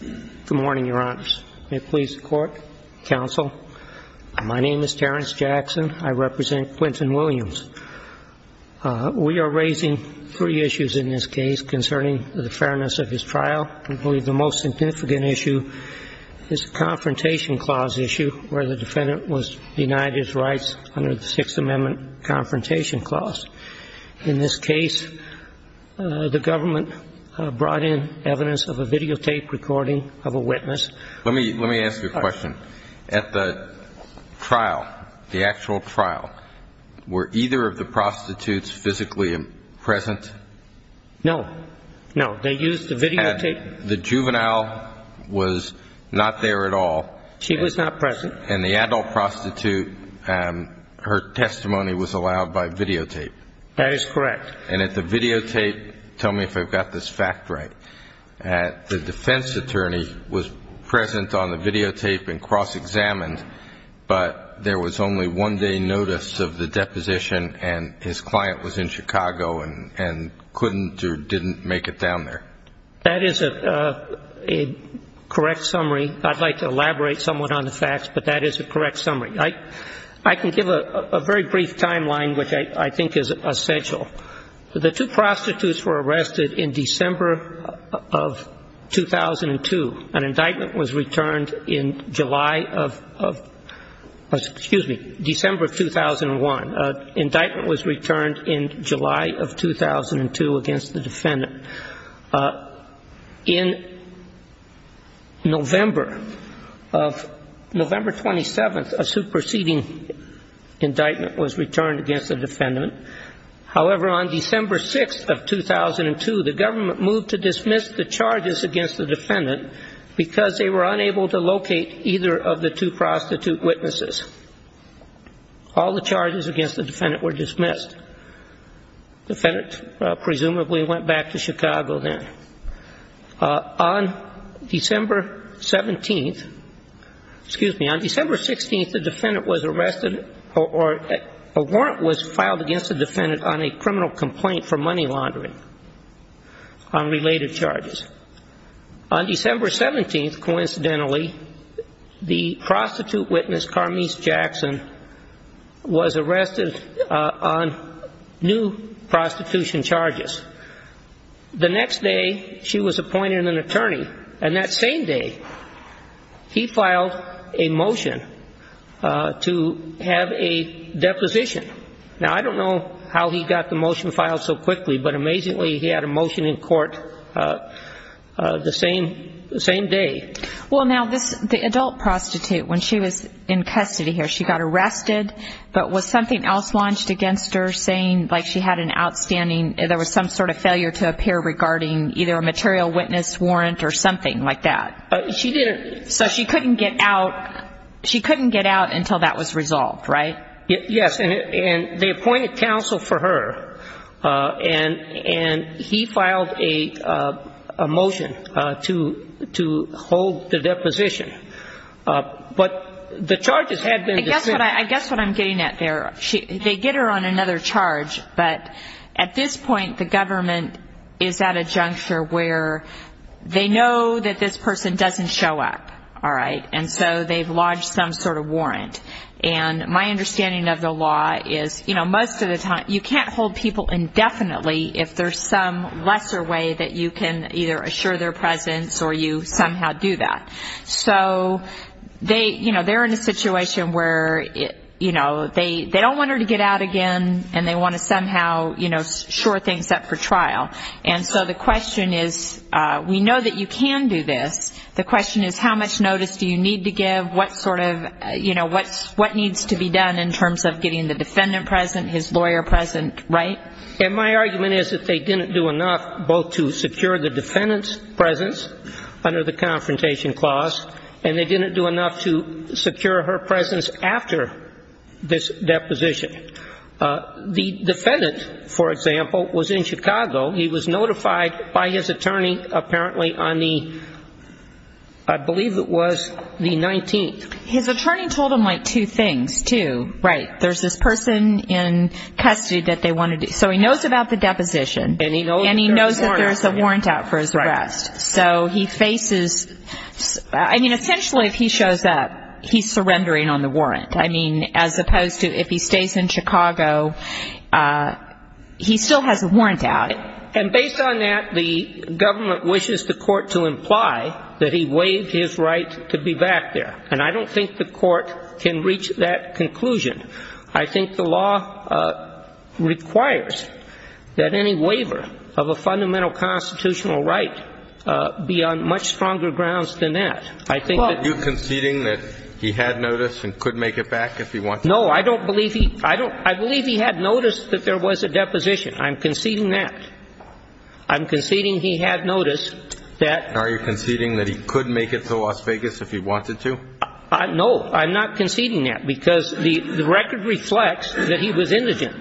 Good morning, Your Honors. May it please the Court, Counsel, my name is Terrence Jackson. I represent Quentin Williams. We are raising three issues in this case concerning the fairness of his trial. I believe the most significant issue is the Confrontation Clause issue where the defendant was denied his rights under the Sixth Amendment Confrontation Clause. In this case, the government brought in evidence of a videotape recording of a witness. Let me ask you a question. At the trial, the actual trial, were either of the prostitutes physically present? No. No. They used the videotape. The juvenile was not there at all. She was not present. And the adult prostitute, her testimony was allowed by videotape? That is correct. And at the videotape, tell me if I've got this fact right, the defense attorney was present on the videotape and cross-examined, but there was only one day notice of the deposition and his client was in Chicago and couldn't or didn't make it down there? That is a correct summary. I'd like to elaborate somewhat on the facts, but that is a correct summary. I can give a very brief timeline which I think is essential. The two prostitutes were arrested in December of 2002. An indictment was returned in July of, excuse me, December of 2001. An indictment was returned in July of 2002 against the defendant. In November of, November 27th, a superseding indictment was returned against the defendant. However, on December 6th of 2002, the government moved to dismiss the charges against the defendant because they were unable to locate either of the two prostitute witnesses. All the charges against the defendant were dismissed. The defendant presumably went back to Chicago then. On December 17th, excuse me, on December 16th, the defendant was arrested or a warrant was filed against the defendant on a criminal complaint for money laundering on related charges. On December 17th, coincidentally, the prostitute witness, Carmese Jackson, was arrested on new prostitution charges. The next day, she was appointed an attorney. And that same day, he filed a motion to have a deposition. Now, I don't know how he got the motion filed so quickly, but amazingly, he had a motion in court the same day. Well, now, this, the adult prostitute, when she was in custody here, she got arrested. But was something else launched against her saying, like, she had an outstanding, there was some sort of failure to appear regarding either a material witness warrant or something like that? She didn't. So she couldn't get out, she couldn't get out until that was resolved, right? Yes. And they appointed counsel for her, and he filed a motion to hold the deposition. But the charges had been the same. I guess what I'm getting at there, they get her on another charge, but at this point, the government is at a juncture where they know that this person doesn't show up, all right? And so they've lodged some sort of warrant. And my understanding of the law is, you know, most of the time, you can't hold people indefinitely if there's some lesser way that you can either assure their presence or you somehow do that. So they're in a situation where, you know, they don't want her to get out again, and they want to somehow, you know, shore things up for trial. And so the question is, we know that you can do this. The question is, how much notice do you need to give? What sort of, you know, what needs to be done in terms of getting the defendant present, his lawyer present, right? And my argument is that they didn't do enough both to secure the defendant's presence under the confrontation clause, and they didn't do enough to secure her presence after this deposition. The defendant, for example, was in Chicago. He was notified by his attorney apparently on the, I believe it was the 19th. His attorney told him, like, two things, too. Right. There's this person in custody that they wanted to do. So he knows about the deposition. And he knows that there's a warrant. And he knows that there's a warrant out for his arrest. Right. So he faces, I mean, essentially if he shows up, he's surrendering on the warrant. I mean, as opposed to if he stays in Chicago, he still has a warrant out. And based on that, the government wishes the court to imply that he waived his right to be back there. And I don't think the court can reach that conclusion. I think the law requires that any waiver of a fundamental constitutional right be on much stronger grounds than that. Are you conceding that he had notice and could make it back if he wanted to? No. I don't believe he – I believe he had notice that there was a deposition. I'm conceding that. I'm conceding he had notice that – Are you conceding that he could make it to Las Vegas if he wanted to? No. I'm not conceding that because the record reflects that he was indigent.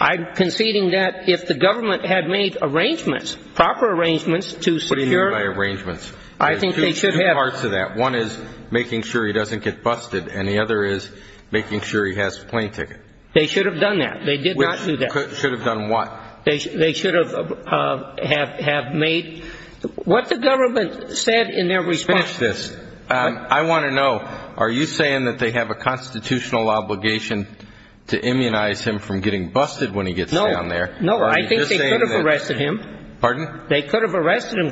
I'm conceding that if the government had made arrangements, proper arrangements to secure – What do you mean by arrangements? I think they should have – There's two parts to that. One is making sure he doesn't get busted, and the other is making sure he has a plane ticket. They should have done that. They did not do that. Should have done what? They should have made – what the government said in their response – Let's finish this. I want to know, are you saying that they have a constitutional obligation to immunize him from getting busted when he gets down there? No, I think they could have arrested him. Pardon? Arrested him.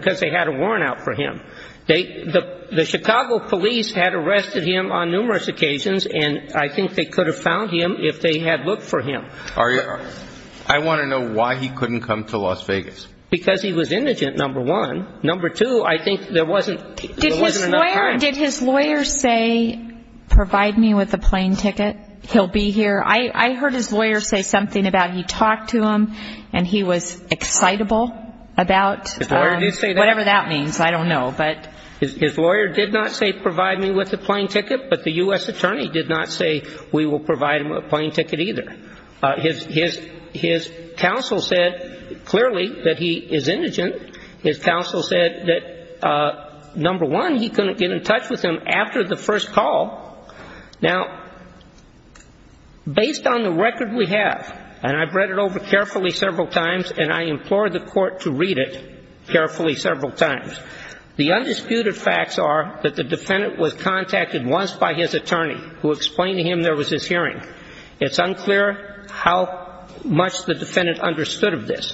The Chicago police had arrested him on numerous occasions, and I think they could have found him if they had looked for him. I want to know why he couldn't come to Las Vegas. Because he was indigent, number one. Number two, I think there wasn't enough time. Did his lawyer say, provide me with a plane ticket, he'll be here? I heard his lawyer say something about he talked to him and he was excitable about – His lawyer did say that? Whatever that means, I don't know. His lawyer did not say provide me with a plane ticket, but the U.S. attorney did not say we will provide him a plane ticket either. His counsel said clearly that he is indigent. His counsel said that, number one, he couldn't get in touch with him after the first call. Now, based on the record we have, and I've read it over carefully several times, and I implore the court to read it carefully several times, the undisputed facts are that the defendant was contacted once by his attorney who explained to him there was this hearing. It's unclear how much the defendant understood of this.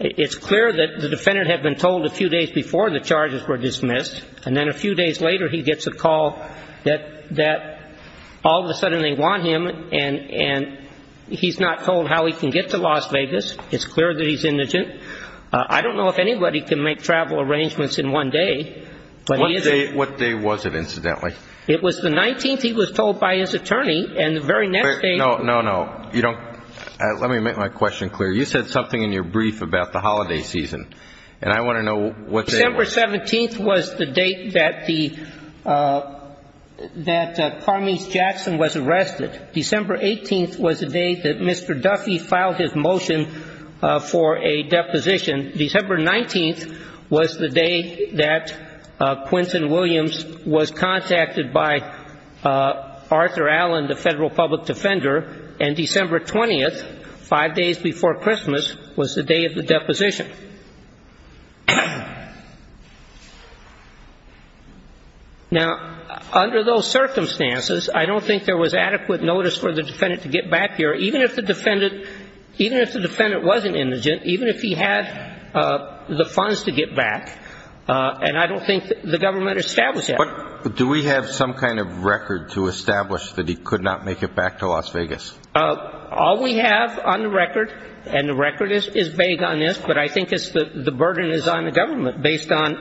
It's clear that the defendant had been told a few days before the charges were dismissed, and then a few days later he gets a call that all of a sudden they want him and he's not told how he can get to Las Vegas. It's clear that he's indigent. I don't know if anybody can make travel arrangements in one day. What day was it, incidentally? It was the 19th, he was told by his attorney, and the very next day – No, no, no. You don't – let me make my question clear. You said something in your brief about the holiday season, and I want to know what day it was. December 17th was the date that the – that Carmese Jackson was arrested. December 18th was the day that Mr. Duffy filed his motion for a deposition. December 19th was the day that Quinton Williams was contacted by Arthur Allen, the federal public defender, and December 20th, five days before Christmas, was the day of the deposition. Now, under those circumstances, I don't think there was adequate notice for the defendant to get back here, even if the defendant – even if the defendant wasn't indigent, even if he had the funds to get back, and I don't think the government established that. Do we have some kind of record to establish that he could not make it back to Las Vegas? All we have on the record, and the record is vague on this, but I think the burden is on the government based on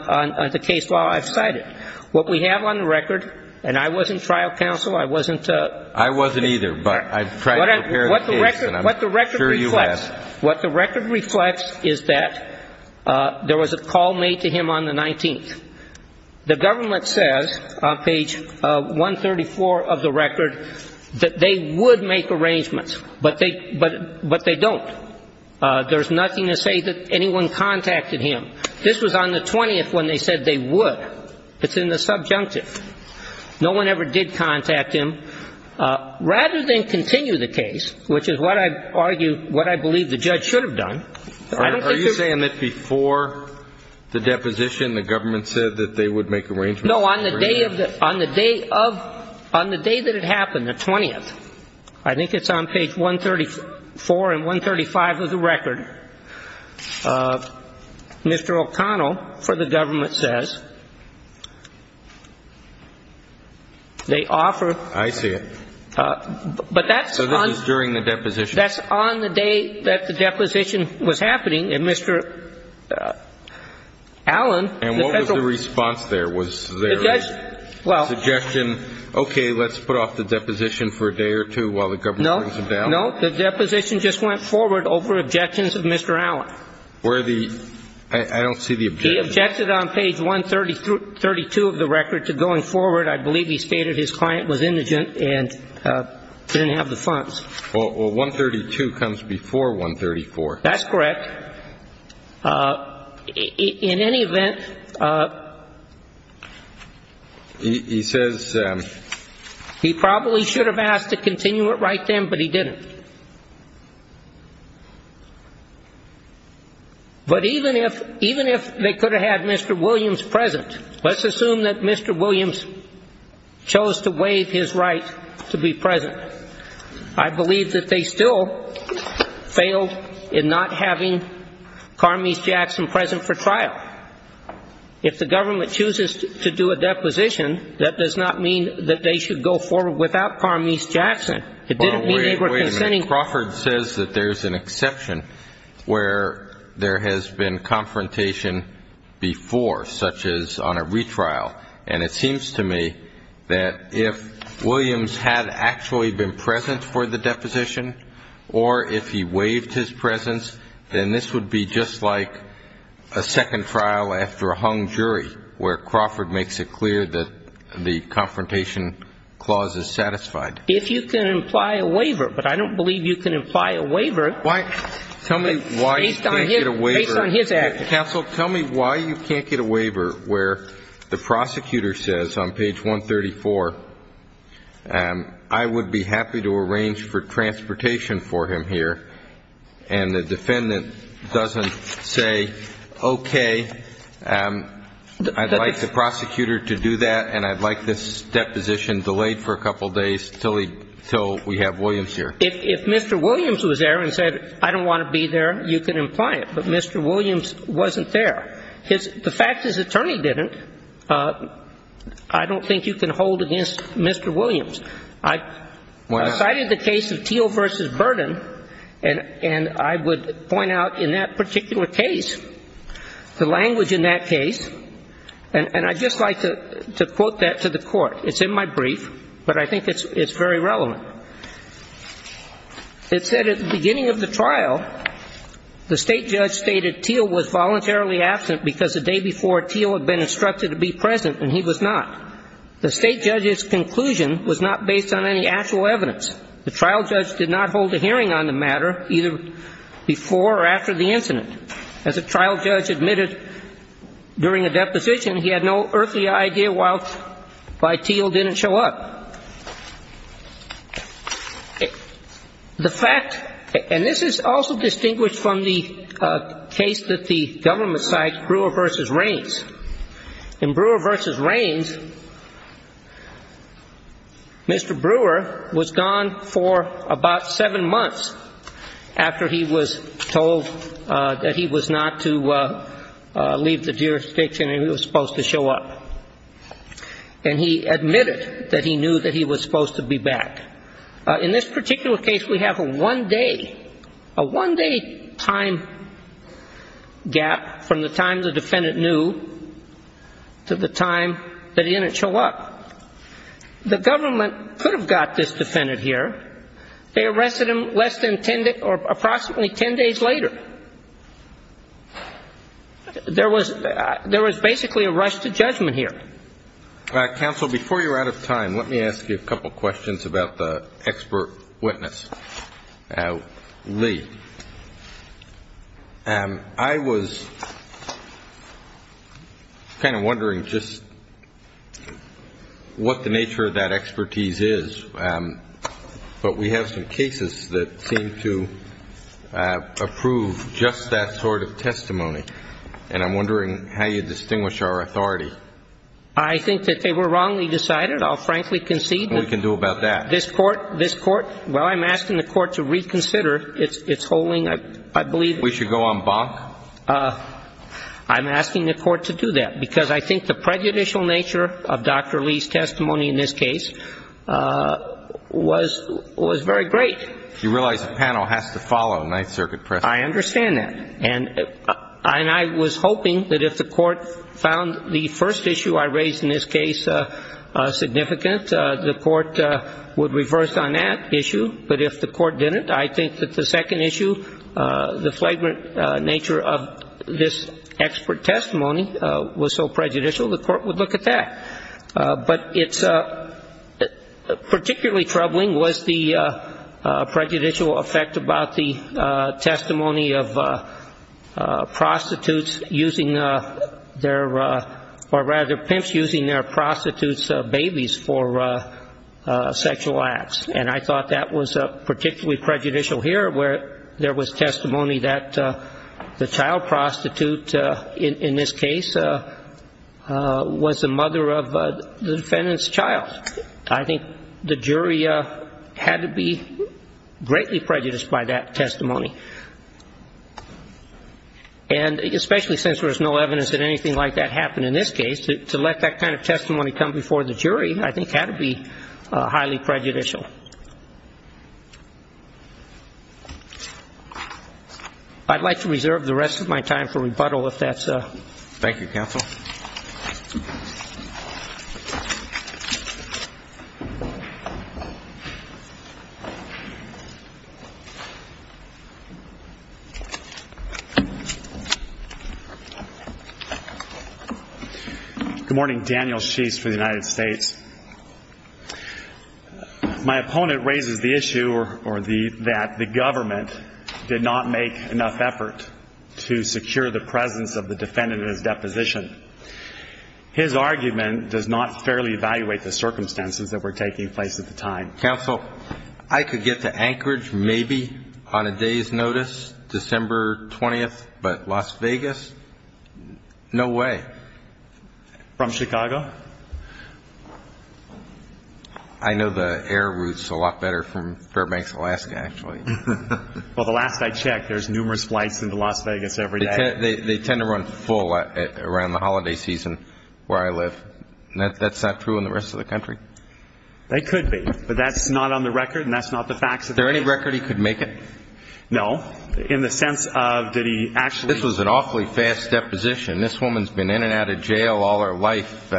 the case law I've cited. What we have on the record, and I wasn't trial counsel, I wasn't – I wasn't either, but I tried to prepare the case, and I'm sure you have. What the record reflects is that there was a call made to him on the 19th. The government says on page 134 of the record that they would make arrangements, but they don't. There's nothing to say that anyone contacted him. This was on the 20th when they said they would. It's in the subjunctive. No one ever did contact him. Rather than continue the case, which is what I argue – what I believe the judge should have done. Are you saying that before the deposition the government said that they would make arrangements? No, on the day of the – on the day of – on the day that it happened, the 20th, I think it's on page 134 and 135 of the record, Mr. O'Connell for the government says they offer – I see it. But that's on – So this is during the deposition. That's on the day that the deposition was happening, and Mr. Allen, the federal – And what was the response there? Was there a suggestion, okay, let's put off the deposition for a day or two while the government brings him down? No, no. The deposition just went forward over objections of Mr. Allen. Where the – I don't see the objection. He objected on page 132 of the record to going forward. I believe he stated his client was indigent and didn't have the funds. Well, 132 comes before 134. That's correct. In any event – He says – He probably should have asked to continue it right then, but he didn't. But even if – even if they could have had Mr. Williams present, let's assume that Mr. Williams chose to waive his right to be present. I believe that they still failed in not having Carmese Jackson present for trial. If the government chooses to do a deposition, that does not mean that they should go forward without Carmese Jackson. It didn't mean they were consenting – Wait a minute. Crawford says that there's an exception where there has been confrontation before, such as on a retrial. And it seems to me that if Williams had actually been present for the deposition or if he waived his presence, then this would be just like a second trial after a hung jury, where Crawford makes it clear that the confrontation clause is satisfied. If you can imply a waiver, but I don't believe you can imply a waiver – Why – tell me why you can't get a waiver – Based on his – based on his actions. Counsel, tell me why you can't get a waiver where the prosecutor says on page 134, I would be happy to arrange for transportation for him here. And the defendant doesn't say, okay, I'd like the prosecutor to do that and I'd like this deposition delayed for a couple days until we have Williams here. If Mr. Williams was there and said, I don't want to be there, you can imply it. But Mr. Williams wasn't there. The fact his attorney didn't, I don't think you can hold against Mr. Williams. I cited the case of Teel v. Burden, and I would point out in that particular case, the language in that case, and I'd just like to quote that to the Court. It's in my brief, but I think it's very relevant. It said at the beginning of the trial, the State judge stated Teel was voluntarily absent because the day before, Teel had been instructed to be present and he was not. The State judge's conclusion was not based on any actual evidence. The trial judge did not hold a hearing on the matter either before or after the incident. As a trial judge admitted during a deposition, he had no earthly idea why Teel didn't show up. The fact, and this is also distinguished from the case that the government cites, Brewer v. Raines. In Brewer v. Raines, Mr. Brewer was gone for about seven months after he was told that he was not to leave the jurisdiction and he was supposed to show up. And he admitted that he knew that he was supposed to be back. In this particular case, we have a one-day time gap from the time the defendant knew to the time that he didn't show up. The government could have got this defendant here. They arrested him less than 10 or approximately 10 days later. There was basically a rush to judgment here. Counsel, before you're out of time, let me ask you a couple questions about the expert witness, Lee. I was kind of wondering just what the nature of that expertise is. We have some cases that seem to approve just that sort of testimony. And I'm wondering how you distinguish our authority. I think that they were wrongly decided. I'll frankly concede. What can we do about that? This Court, while I'm asking the Court to reconsider, it's holding, I believe. We should go on bonk? I'm asking the Court to do that because I think the prejudicial nature of Dr. Lee's testimony in this case was very great. You realize the panel has to follow Ninth Circuit precedent. I understand that. And I was hoping that if the Court found the first issue I raised in this case significant, the Court would reverse on that issue. But if the Court didn't, I think that the second issue, the flagrant nature of this expert testimony was so prejudicial, the Court would look at that. But it's particularly troubling was the prejudicial effect about the testimony of prostitutes using their, or rather pimps using their prostitutes' babies for sexual acts. And I thought that was particularly prejudicial here where there was testimony that the child prostitute, in this case, was the mother of the defendant's child. I think the jury had to be greatly prejudiced by that testimony. And especially since there's no evidence that anything like that happened in this case, to let that kind of testimony come before the jury I think had to be highly prejudicial. I'd like to reserve the rest of my time for rebuttal if that's. Thank you, counsel. Good morning. Daniel Sheest for the United States. My opponent raises the issue that the government did not make enough effort to secure the presence of the defendant in his deposition. His argument does not fairly evaluate the circumstances that were taking place at the time. Counsel, I could get to Anchorage maybe on a day's notice, December 20th, but Las Vegas, no way. From Chicago? I know the air routes a lot better from Fairbanks, Alaska, actually. Well, the last I checked, there's numerous flights into Las Vegas every day. They tend to run full around the holiday season where I live. That's not true in the rest of the country? That could be, but that's not on the record and that's not the facts. Is there any record he could make it? No. In the sense of did he actually? This was an awfully fast deposition. This woman's been in and out of jail all her life,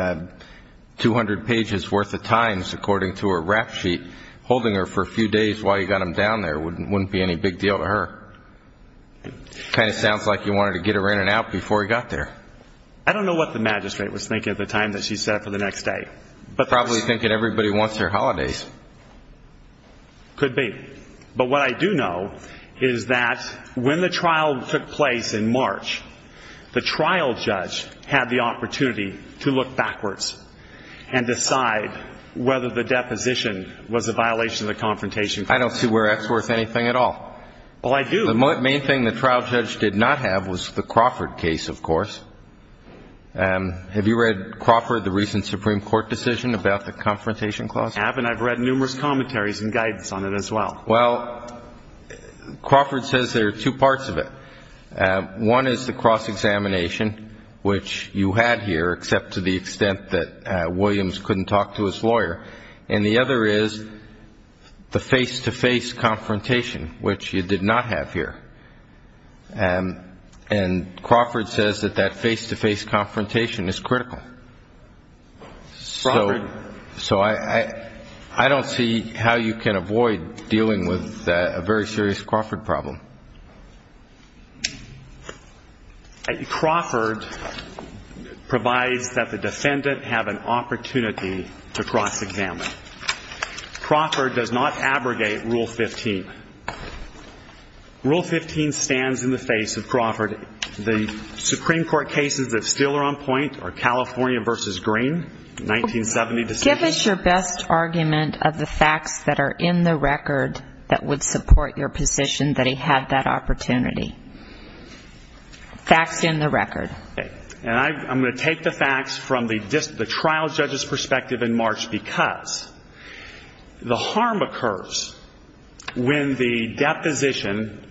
200 pages worth of times, according to her rap sheet. Holding her for a few days while you got him down there wouldn't be any big deal to her. Kind of sounds like you wanted to get her in and out before he got there. I don't know what the magistrate was thinking at the time that she set up for the next day. Probably thinking everybody wants their holidays. Could be. But what I do know is that when the trial took place in March, the trial judge had the opportunity to look backwards and decide whether the deposition was a violation of the Confrontation Clause. I don't see where that's worth anything at all. Well, I do. The main thing the trial judge did not have was the Crawford case, of course. Have you read Crawford, the recent Supreme Court decision about the Confrontation Clause? I have, and I've read numerous commentaries and guidance on it as well. Well, Crawford says there are two parts of it. One is the cross-examination, which you had here, except to the extent that Williams couldn't talk to his lawyer. And the other is the face-to-face confrontation, which you did not have here. And Crawford says that that face-to-face confrontation is critical. Crawford. So I don't see how you can avoid dealing with a very serious Crawford problem. Crawford provides that the defendant have an opportunity to cross-examine. Crawford does not abrogate Rule 15. Rule 15 stands in the face of Crawford. The Supreme Court cases that still are on point are California v. Green, 1970 decision. Give us your best argument of the facts that are in the record that would support your position that he had that opportunity. Facts in the record. And I'm going to take the facts from the trial judge's perspective in March, because the harm occurs when the deposition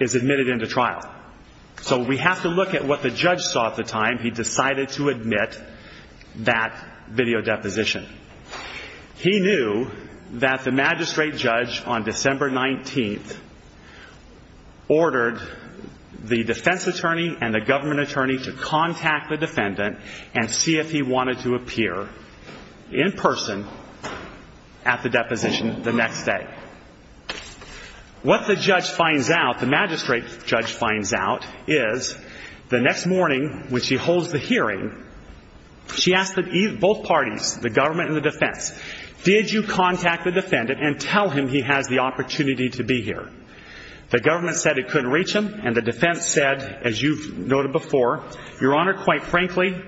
is admitted into trial. So we have to look at what the judge saw at the time he decided to admit that video deposition. He knew that the magistrate judge on December 19th ordered the defense attorney and the government attorney to contact the defendant and see if he wanted to appear in person at the deposition the next day. What the judge finds out, the magistrate judge finds out, is the next morning when she holds the hearing, she asks both parties, the government and the defense, did you contact the defendant and tell him he has the opportunity to be here? The government said it couldn't reach him, and the defense said, as you've noted before, Your Honor, quite frankly,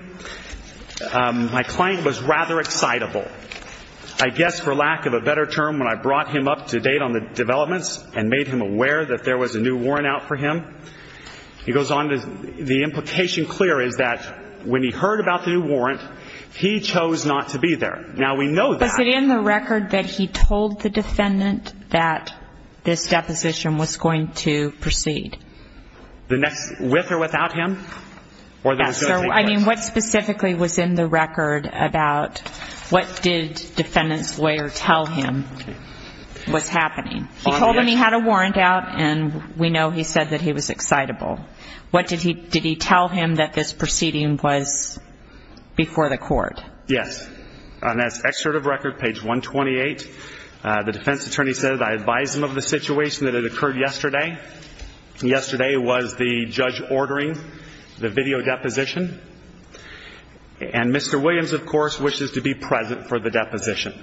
my client was rather excitable. I guess for lack of a better term, when I brought him up to date on the developments and made him aware that there was a new warrant out for him, the implication clear is that when he heard about the new warrant, he chose not to be there. Now, we know that. Was it in the record that he told the defendant that this deposition was going to proceed? With or without him? Yes, sir. I mean, what specifically was in the record about what did defendant's lawyer tell him was happening? He told him he had a warrant out, and we know he said that he was excitable. What did he tell him that this proceeding was before the court? Yes. On this excerpt of record, page 128, the defense attorney said, I advised him of the situation that had occurred yesterday. Yesterday was the judge ordering the video deposition, and Mr. Williams, of course, wishes to be present for the deposition.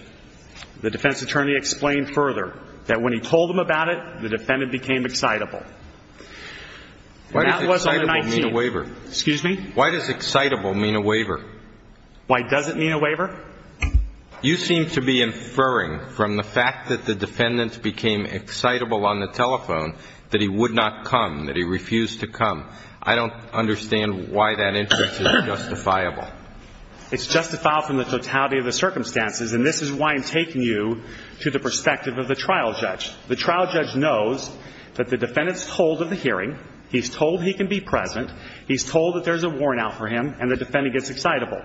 The defense attorney explained further that when he told him about it, the defendant became excitable. Why does excitable mean a waiver? Excuse me? Why does excitable mean a waiver? Why does it mean a waiver? You seem to be inferring from the fact that the defendant became excitable on the telephone that he would not come, that he refused to come. I don't understand why that instance is justifiable. It's justifiable from the totality of the circumstances, and this is why I'm taking you to the perspective of the trial judge. The trial judge knows that the defendant is told of the hearing. He's told he can be present. He's told that there's a warrant out for him, and the defendant gets excitable.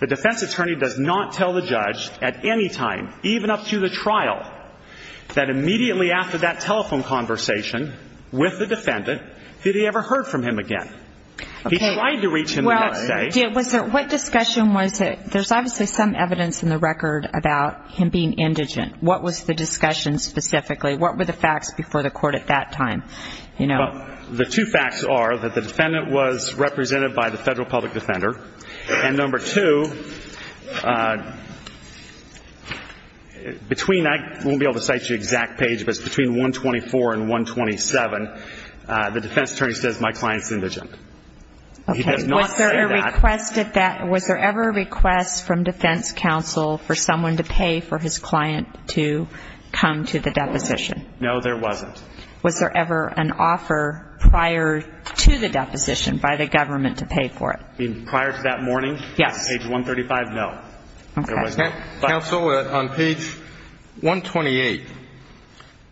The defense attorney does not tell the judge at any time, even up to the trial, that immediately after that telephone conversation with the defendant, did he ever heard from him again. He tried to reach him the next day. What discussion was it? There's obviously some evidence in the record about him being indigent. What was the discussion specifically? What were the facts before the court at that time? Well, the two facts are that the defendant was represented by the federal public defender, and number two, between I won't be able to cite you the exact page, but it's between 124 and 127, the defense attorney says my client's indigent. Okay. He does not say that. Was there ever a request from defense counsel for someone to pay for his client to come to the deposition? No, there wasn't. Was there ever an offer prior to the deposition by the government to pay for it? You mean prior to that morning? Yes. Page 135? No. Okay. Counsel, on page 128,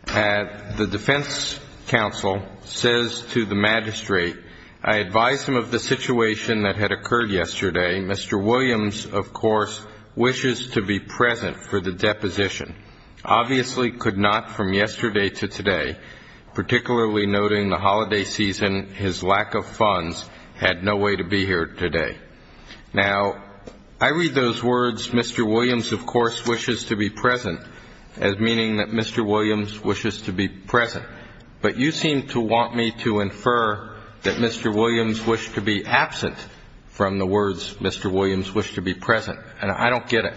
the defense counsel says to the magistrate, I advise him of the situation that had occurred yesterday. Mr. Williams, of course, wishes to be present for the deposition. Obviously could not from yesterday to today, particularly noting the holiday season, his lack of funds had no way to be here today. Now, I read those words, Mr. Williams, of course, wishes to be present, as meaning that Mr. Williams wishes to be present. But you seem to want me to infer that Mr. Williams wished to be absent from the words Mr. Williams wished to be present, and I don't get it.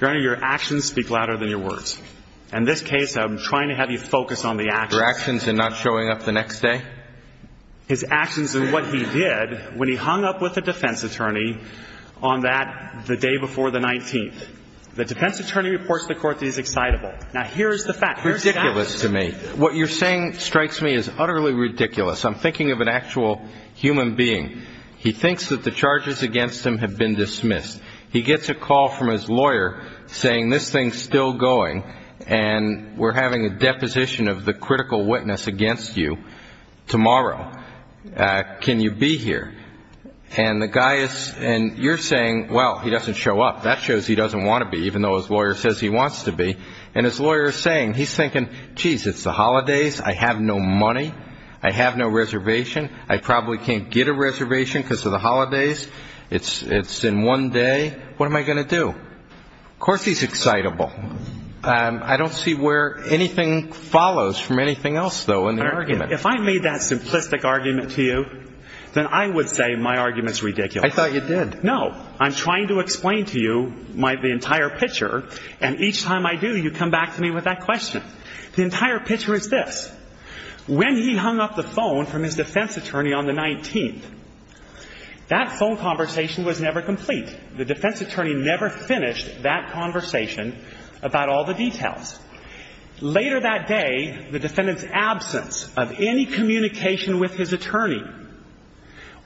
Your Honor, your actions speak louder than your words. In this case, I'm trying to have you focus on the actions. Your actions in not showing up the next day? I've been looking at his actions and what he did when he hung up with a defense attorney on that, the day before the 19th. The defense attorney reports to the court that he's excitable. Now, here's the fact. Here's the fact. Ridiculous to me. What you're saying strikes me as utterly ridiculous. I'm thinking of an actual human being. He thinks that the charges against him have been dismissed. He gets a call from his lawyer saying, this thing's still going, and we're having a deposition of the critical witness against you tomorrow. Can you be here? And you're saying, well, he doesn't show up. That shows he doesn't want to be, even though his lawyer says he wants to be. And his lawyer is saying, he's thinking, geez, it's the holidays. I have no money. I have no reservation. I probably can't get a reservation because of the holidays. It's in one day. What am I going to do? Of course he's excitable. I don't see where anything follows from anything else, though, in the argument. If I made that simplistic argument to you, then I would say my argument's ridiculous. I thought you did. No. I'm trying to explain to you the entire picture, and each time I do, you come back to me with that question. The entire picture is this. When he hung up the phone from his defense attorney on the 19th, that phone conversation was never complete. The defense attorney never finished that conversation about all the details. Later that day, the defendant's absence of any communication with his attorney,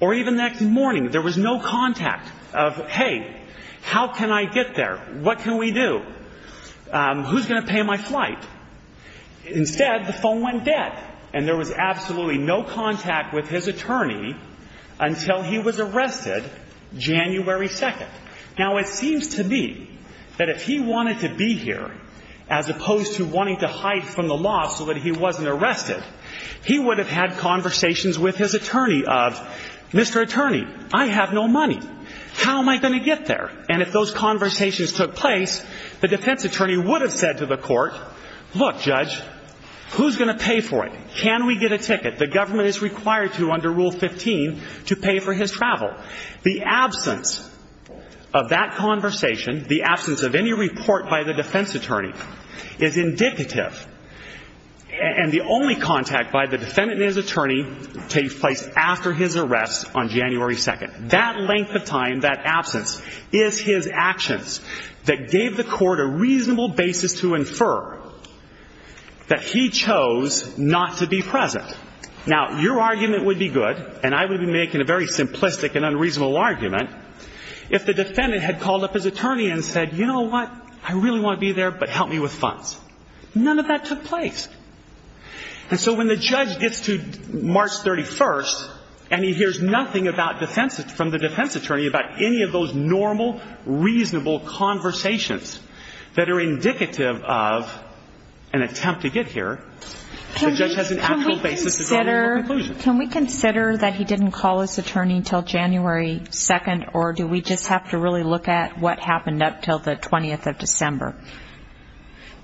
or even the next morning, there was no contact of, hey, how can I get there? What can we do? Who's going to pay my flight? Instead, the phone went dead, and there was absolutely no contact with his attorney until he was arrested January 2nd. Now, it seems to me that if he wanted to be here, as opposed to wanting to hide from the law so that he wasn't arrested, he would have had conversations with his attorney of, Mr. Attorney, I have no money. How am I going to get there? And if those conversations took place, the defense attorney would have said to the court, look, judge, who's going to pay for it? Can we get a ticket? The government is required to, under Rule 15, to pay for his travel. The absence of that conversation, the absence of any report by the defense attorney, is indicative. And the only contact by the defendant and his attorney takes place after his arrest on January 2nd. That length of time, that absence, is his actions that gave the court a reasonable basis to infer that he chose not to be present. Now, your argument would be good, and I would be making a very simplistic and unreasonable argument, if the defendant had called up his attorney and said, you know what, I really want to be there, but help me with funds. None of that took place. And so when the judge gets to March 31st and he hears nothing from the defense attorney about any of those normal, reasonable conversations that are indicative of an attempt to get here, the judge has an actual basis to draw a conclusion. Can we consider that he didn't call his attorney until January 2nd, or do we just have to really look at what happened up until the 20th of December?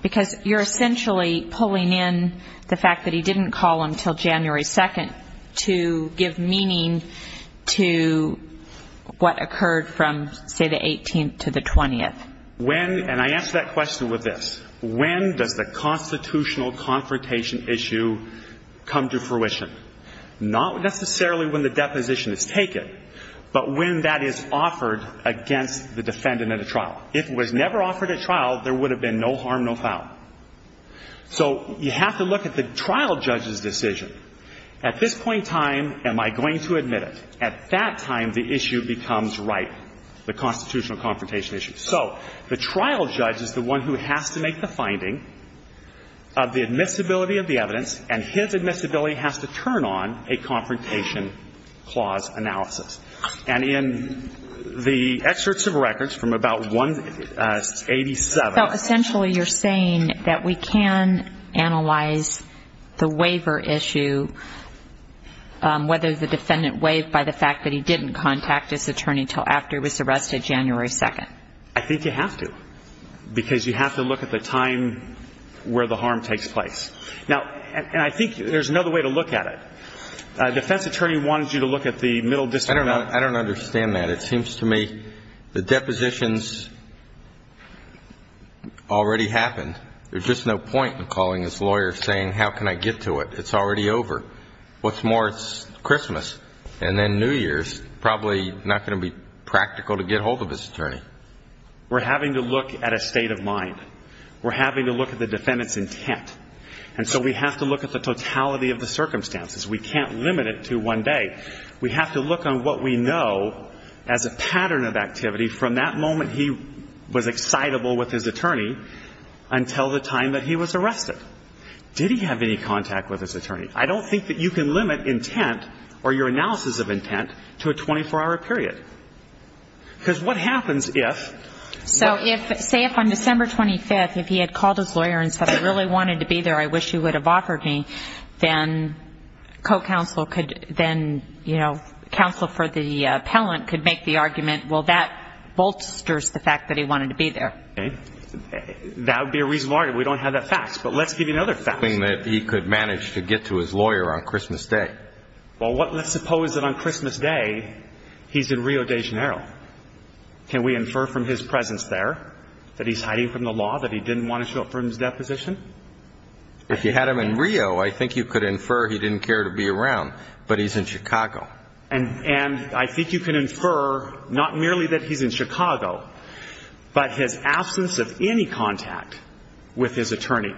Because you're essentially pulling in the fact that he didn't call until January 2nd to give meaning to what occurred from, say, the 18th to the 20th. When, and I answer that question with this, when does the constitutional confrontation issue come to fruition? Not necessarily when the deposition is taken, but when that is offered against the defendant at a trial. If it was never offered at trial, there would have been no harm, no foul. So you have to look at the trial judge's decision. At this point in time, am I going to admit it? At that time, the issue becomes ripe, the constitutional confrontation issue. So the trial judge is the one who has to make the finding of the admissibility of the evidence, and his admissibility has to turn on a confrontation clause analysis. And in the excerpts of records from about 187. So essentially you're saying that we can analyze the waiver issue, whether the defendant waived by the fact that he didn't contact his attorney until after he was arrested January 2nd. I think you have to, because you have to look at the time where the harm takes place. And I think there's another way to look at it. A defense attorney wants you to look at the middle district. I don't understand that. It seems to me the depositions already happened. There's just no point in calling his lawyer saying, how can I get to it? It's already over. What's more, it's Christmas, and then New Year's, probably not going to be practical to get hold of his attorney. We're having to look at a state of mind. We're having to look at the defendant's intent. And so we have to look at the totality of the circumstances. We can't limit it to one day. We have to look on what we know as a pattern of activity from that moment he was excitable with his attorney until the time that he was arrested. Did he have any contact with his attorney? I don't think that you can limit intent or your analysis of intent to a 24-hour period. Because what happens if one of the defendants doesn't? So say if on December 25th, if he had called his lawyer and said, I wish you would have offered me, then co-counsel could then, you know, counsel for the appellant could make the argument, well, that bolsters the fact that he wanted to be there. That would be a reasonable argument. We don't have that fact. But let's give you another fact. That he could manage to get to his lawyer on Christmas Day. Well, let's suppose that on Christmas Day, he's in Rio de Janeiro. Can we infer from his presence there that he's hiding from the law, that he didn't want to show up for his deposition? If you had him in Rio, I think you could infer he didn't care to be around. But he's in Chicago. And I think you can infer not merely that he's in Chicago, but his absence of any contact with his attorney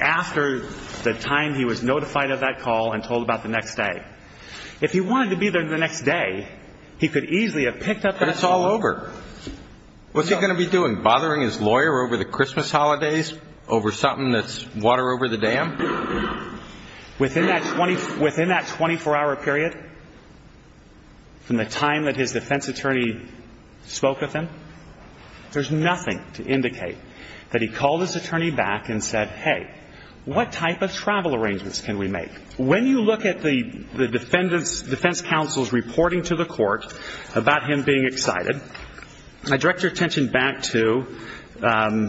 after the time he was notified of that call and told about the next day. If he wanted to be there the next day, he could easily have picked up that phone. But it's all over. What's he going to be doing, bothering his lawyer over the Christmas holidays, over something that's water over the dam? Within that 24-hour period, from the time that his defense attorney spoke with him, there's nothing to indicate that he called his attorney back and said, hey, what type of travel arrangements can we make? When you look at the defense counsel's reporting to the court about him being excited, I direct your attention back to the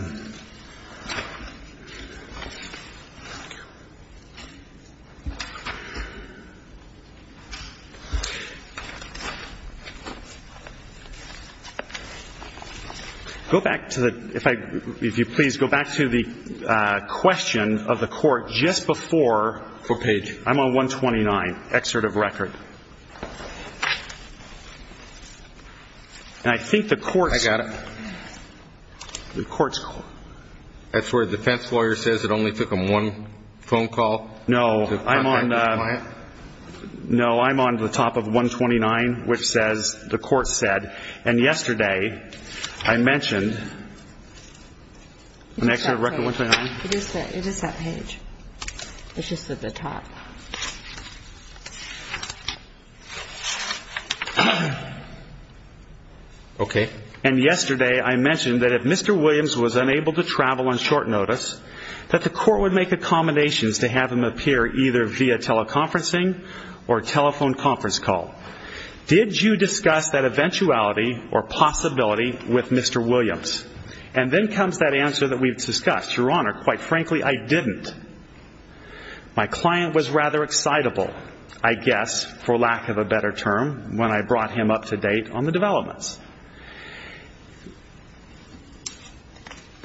question of the court just before. What page? I'm on 129, excerpt of record. And I think the court's. I got it. The court's. That's where the defense lawyer says it only took him one phone call to contact his client? No, I'm on the top of 129, which says the court said. And yesterday I mentioned. An excerpt of record 129? It is that page. It's just at the top. Okay. And yesterday I mentioned that if Mr. Williams was unable to travel on short notice, that the court would make accommodations to have him appear either via teleconferencing or a telephone conference call. Did you discuss that eventuality or possibility with Mr. Williams? And then comes that answer that we've discussed. Your Honor, quite frankly, I didn't. My client was rather excitable, I guess, for lack of a better term, when I brought him up to date on the developments.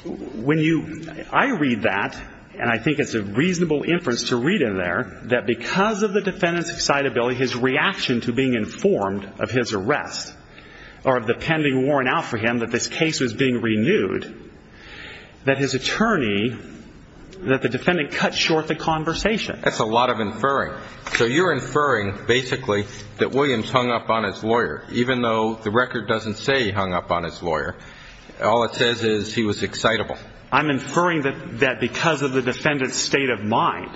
When you. I read that, and I think it's a reasonable inference to read in there, that because of the defendant's excitability, his reaction to being informed of his arrest or of the pending warrant out for him that this case was being renewed, that his attorney, that the defendant cut short the conversation. That's a lot of inferring. So you're inferring basically that Williams hung up on his lawyer, even though the record doesn't say he hung up on his lawyer. All it says is he was excitable. I'm inferring that because of the defendant's state of mind,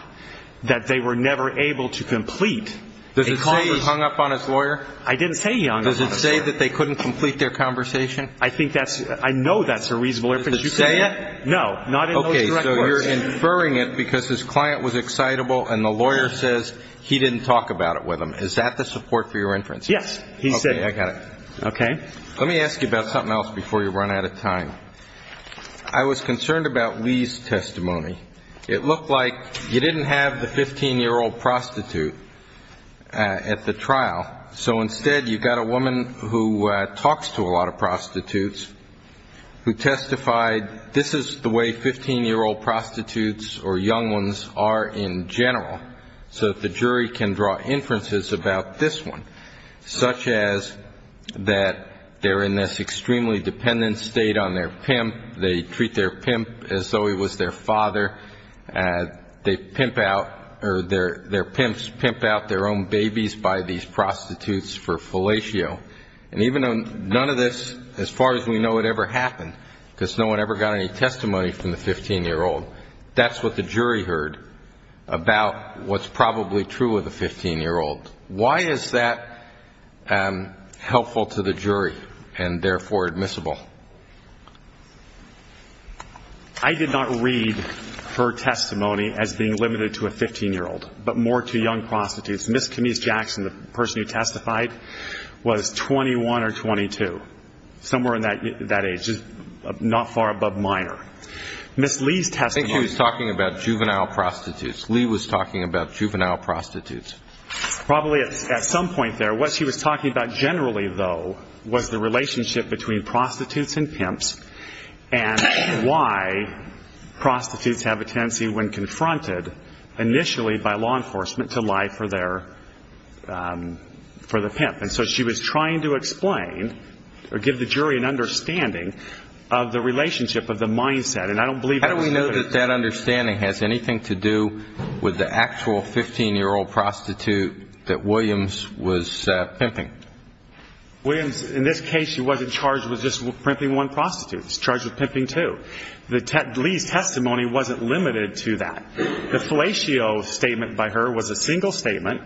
that they were never able to complete a conversation. Does it say he hung up on his lawyer? I didn't say he hung up on his lawyer. Does it say that they couldn't complete their conversation? I think that's, I know that's a reasonable inference. Does it say that? No, not in those direct words. Okay, so you're inferring it because his client was excitable, and the lawyer says he didn't talk about it with him. Is that the support for your inference? Yes, he said. Okay, I got it. Okay. Let me ask you about something else before you run out of time. I was concerned about Lee's testimony. It looked like you didn't have the 15-year-old prostitute at the trial, so instead you've got a woman who talks to a lot of prostitutes who testified, this is the way 15-year-old prostitutes or young ones are in general, so that the jury can draw inferences about this one, such as that they're in this extremely dependent state on their pimp, they treat their pimp as though he was their father, their pimps pimp out their own babies by these prostitutes for fellatio. And even though none of this, as far as we know, ever happened because no one ever got any testimony from the 15-year-old, that's what the jury heard about what's probably true of the 15-year-old. Why is that helpful to the jury and, therefore, admissible? I did not read her testimony as being limited to a 15-year-old, but more to young prostitutes. Ms. Camise Jackson, the person who testified, was 21 or 22, somewhere in that age, not far above minor. Ms. Lee's testimony. I think he was talking about juvenile prostitutes. Lee was talking about juvenile prostitutes. Probably at some point there, what she was talking about generally, though, was the relationship between prostitutes and pimps and why prostitutes have a tendency when confronted initially by law enforcement to lie for the pimp. And so she was trying to explain or give the jury an understanding of the relationship, of the mindset, and I don't believe that was true. Do you know that that understanding has anything to do with the actual 15-year-old prostitute that Williams was pimping? Williams, in this case, she wasn't charged with just pimping one prostitute. She was charged with pimping two. Lee's testimony wasn't limited to that. The fellatio statement by her was a single statement.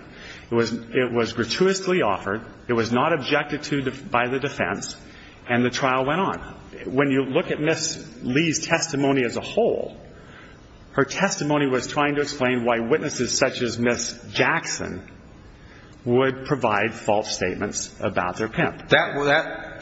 It was gratuitously offered. It was not objected to by the defense, and the trial went on. When you look at Ms. Lee's testimony as a whole, her testimony was trying to explain why witnesses such as Ms. Jackson would provide false statements about their pimp.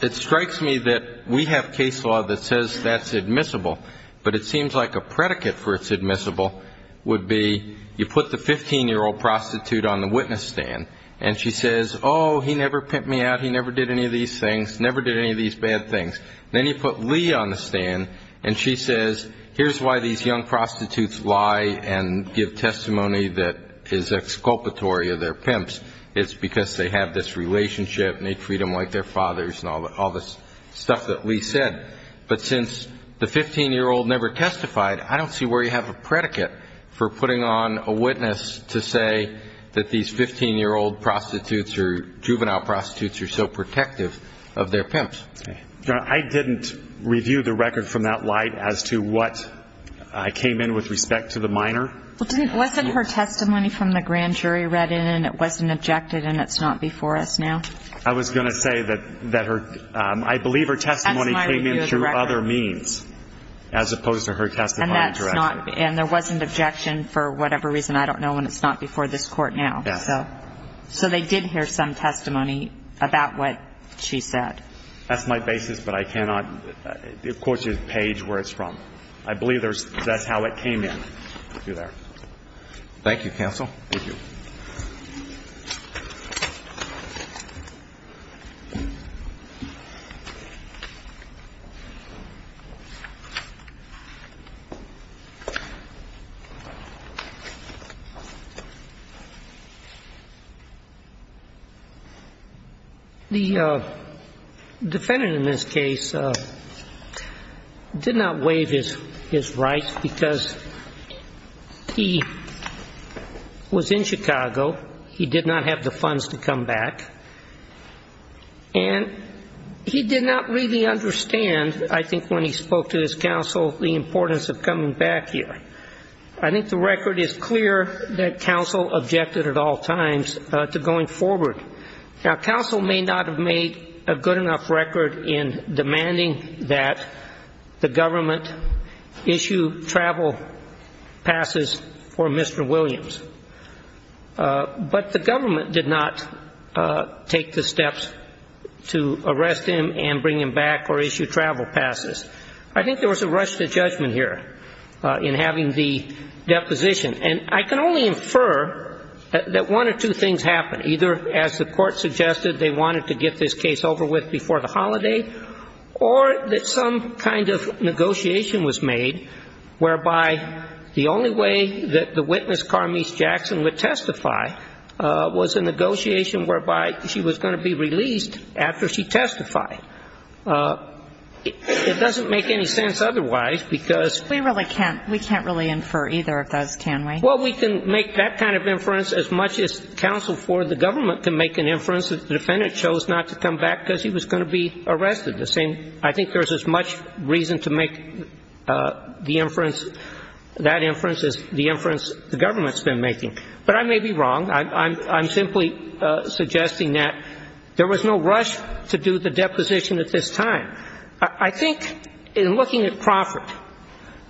It strikes me that we have case law that says that's admissible, but it seems like a predicate for it's admissible would be you put the 15-year-old prostitute on the witness stand and she says, oh, he never pimped me out, he never did any of these things, never did any of these bad things. Then you put Lee on the stand and she says here's why these young prostitutes lie and give testimony that is exculpatory of their pimps. It's because they have this relationship and they treat them like their fathers and all this stuff that Lee said. But since the 15-year-old never testified, I don't see where you have a predicate for putting on a witness to say that these 15-year-old prostitutes or juvenile prostitutes are so protective of their pimps. I didn't review the record from that light as to what came in with respect to the minor. Wasn't her testimony from the grand jury read in and it wasn't objected and it's not before us now? I was going to say that I believe her testimony came in through other means as opposed to her testimony directly. And there wasn't objection for whatever reason. I don't know and it's not before this court now. So they did hear some testimony about what she said. That's my basis, but I cannot quote you the page where it's from. I believe that's how it came in through there. Thank you, counsel. Thank you. Thank you. The defendant in this case did not waive his right because he was in Chicago. He did not have the funds to come back. And he did not really understand, I think, when he spoke to his counsel, the importance of coming back here. I think the record is clear that counsel objected at all times to going forward. Now, counsel may not have made a good enough record in demanding that the government issue travel passes for Mr. Williams. But the government did not take the steps to arrest him and bring him back or issue travel passes. I think there was a rush to judgment here in having the deposition. And I can only infer that one or two things happened, either as the court suggested they wanted to get this case over with before the holiday or that some kind of negotiation was made whereby the only way that the witness, Carmese Jackson, would testify was a negotiation whereby she was going to be released after she testified. It doesn't make any sense otherwise because we really can't we can't really infer either of those, can we? Well, we can make that kind of inference as much as counsel for the government can make an inference that the defendant chose not to come back because he was going to be arrested. The same – I think there's as much reason to make the inference – that inference as the inference the government's been making. But I may be wrong. I'm simply suggesting that there was no rush to do the deposition at this time. I think in looking at Crawford,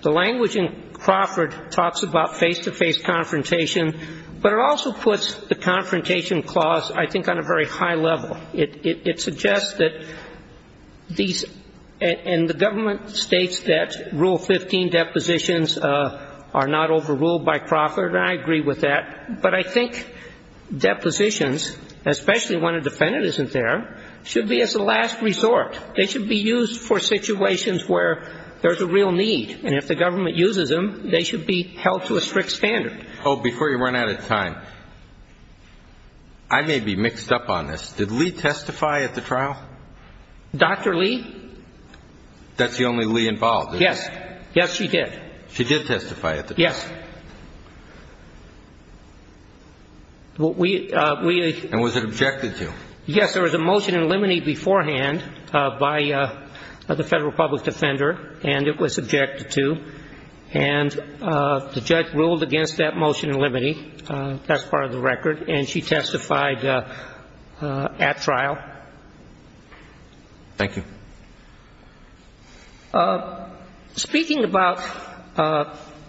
the language in Crawford talks about face-to-face confrontation, but it also puts the confrontation clause, I think, on a very high level. It suggests that these – and the government states that Rule 15 depositions are not overruled by Crawford, and I agree with that. But I think depositions, especially when a defendant isn't there, should be as a last resort. They should be used for situations where there's a real need, and if the government uses them, they should be held to a strict standard. Oh, before you run out of time, I may be mixed up on this. Did Lee testify at the trial? Dr. Lee? That's the only Lee involved, isn't it? Yes. Yes, she did. She did testify at the trial. Yes. We – And was it objected to? Yes, there was a motion in limine beforehand by the Federal Public Defender, and it was objected to. And the judge ruled against that motion in limine. That's part of the record. And she testified at trial. Thank you. Speaking about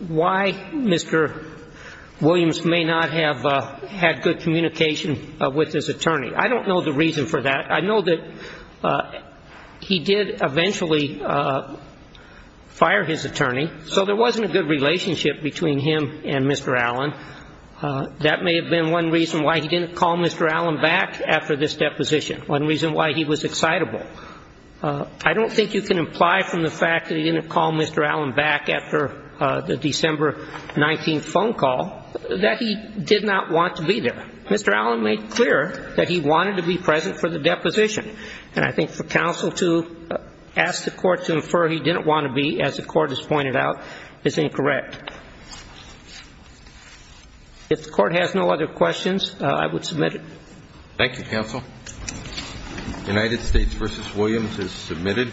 why Mr. Williams may not have had good communication with this attorney, I don't know the reason for that. I know that he did eventually fire his attorney, so there wasn't a good relationship between him and Mr. Allen. That may have been one reason why he didn't call Mr. Allen back after this deposition, one reason why he was excitable. I don't think you can imply from the fact that he didn't call Mr. Allen back after the December 19th phone call that he did not want to be there. Mr. Allen made clear that he wanted to be present for the deposition. And I think for counsel to ask the court to infer he didn't want to be, as the court has pointed out, is incorrect. If the court has no other questions, I would submit it. Thank you, counsel. United States v. Williams is submitted.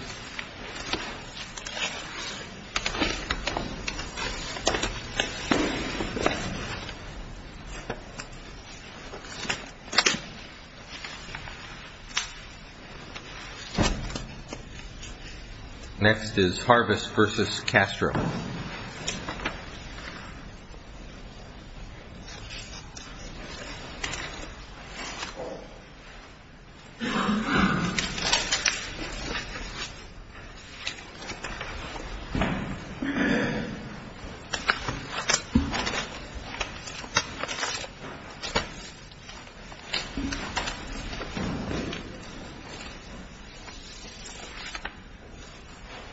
Next is Harvest v. Castro. Thank you.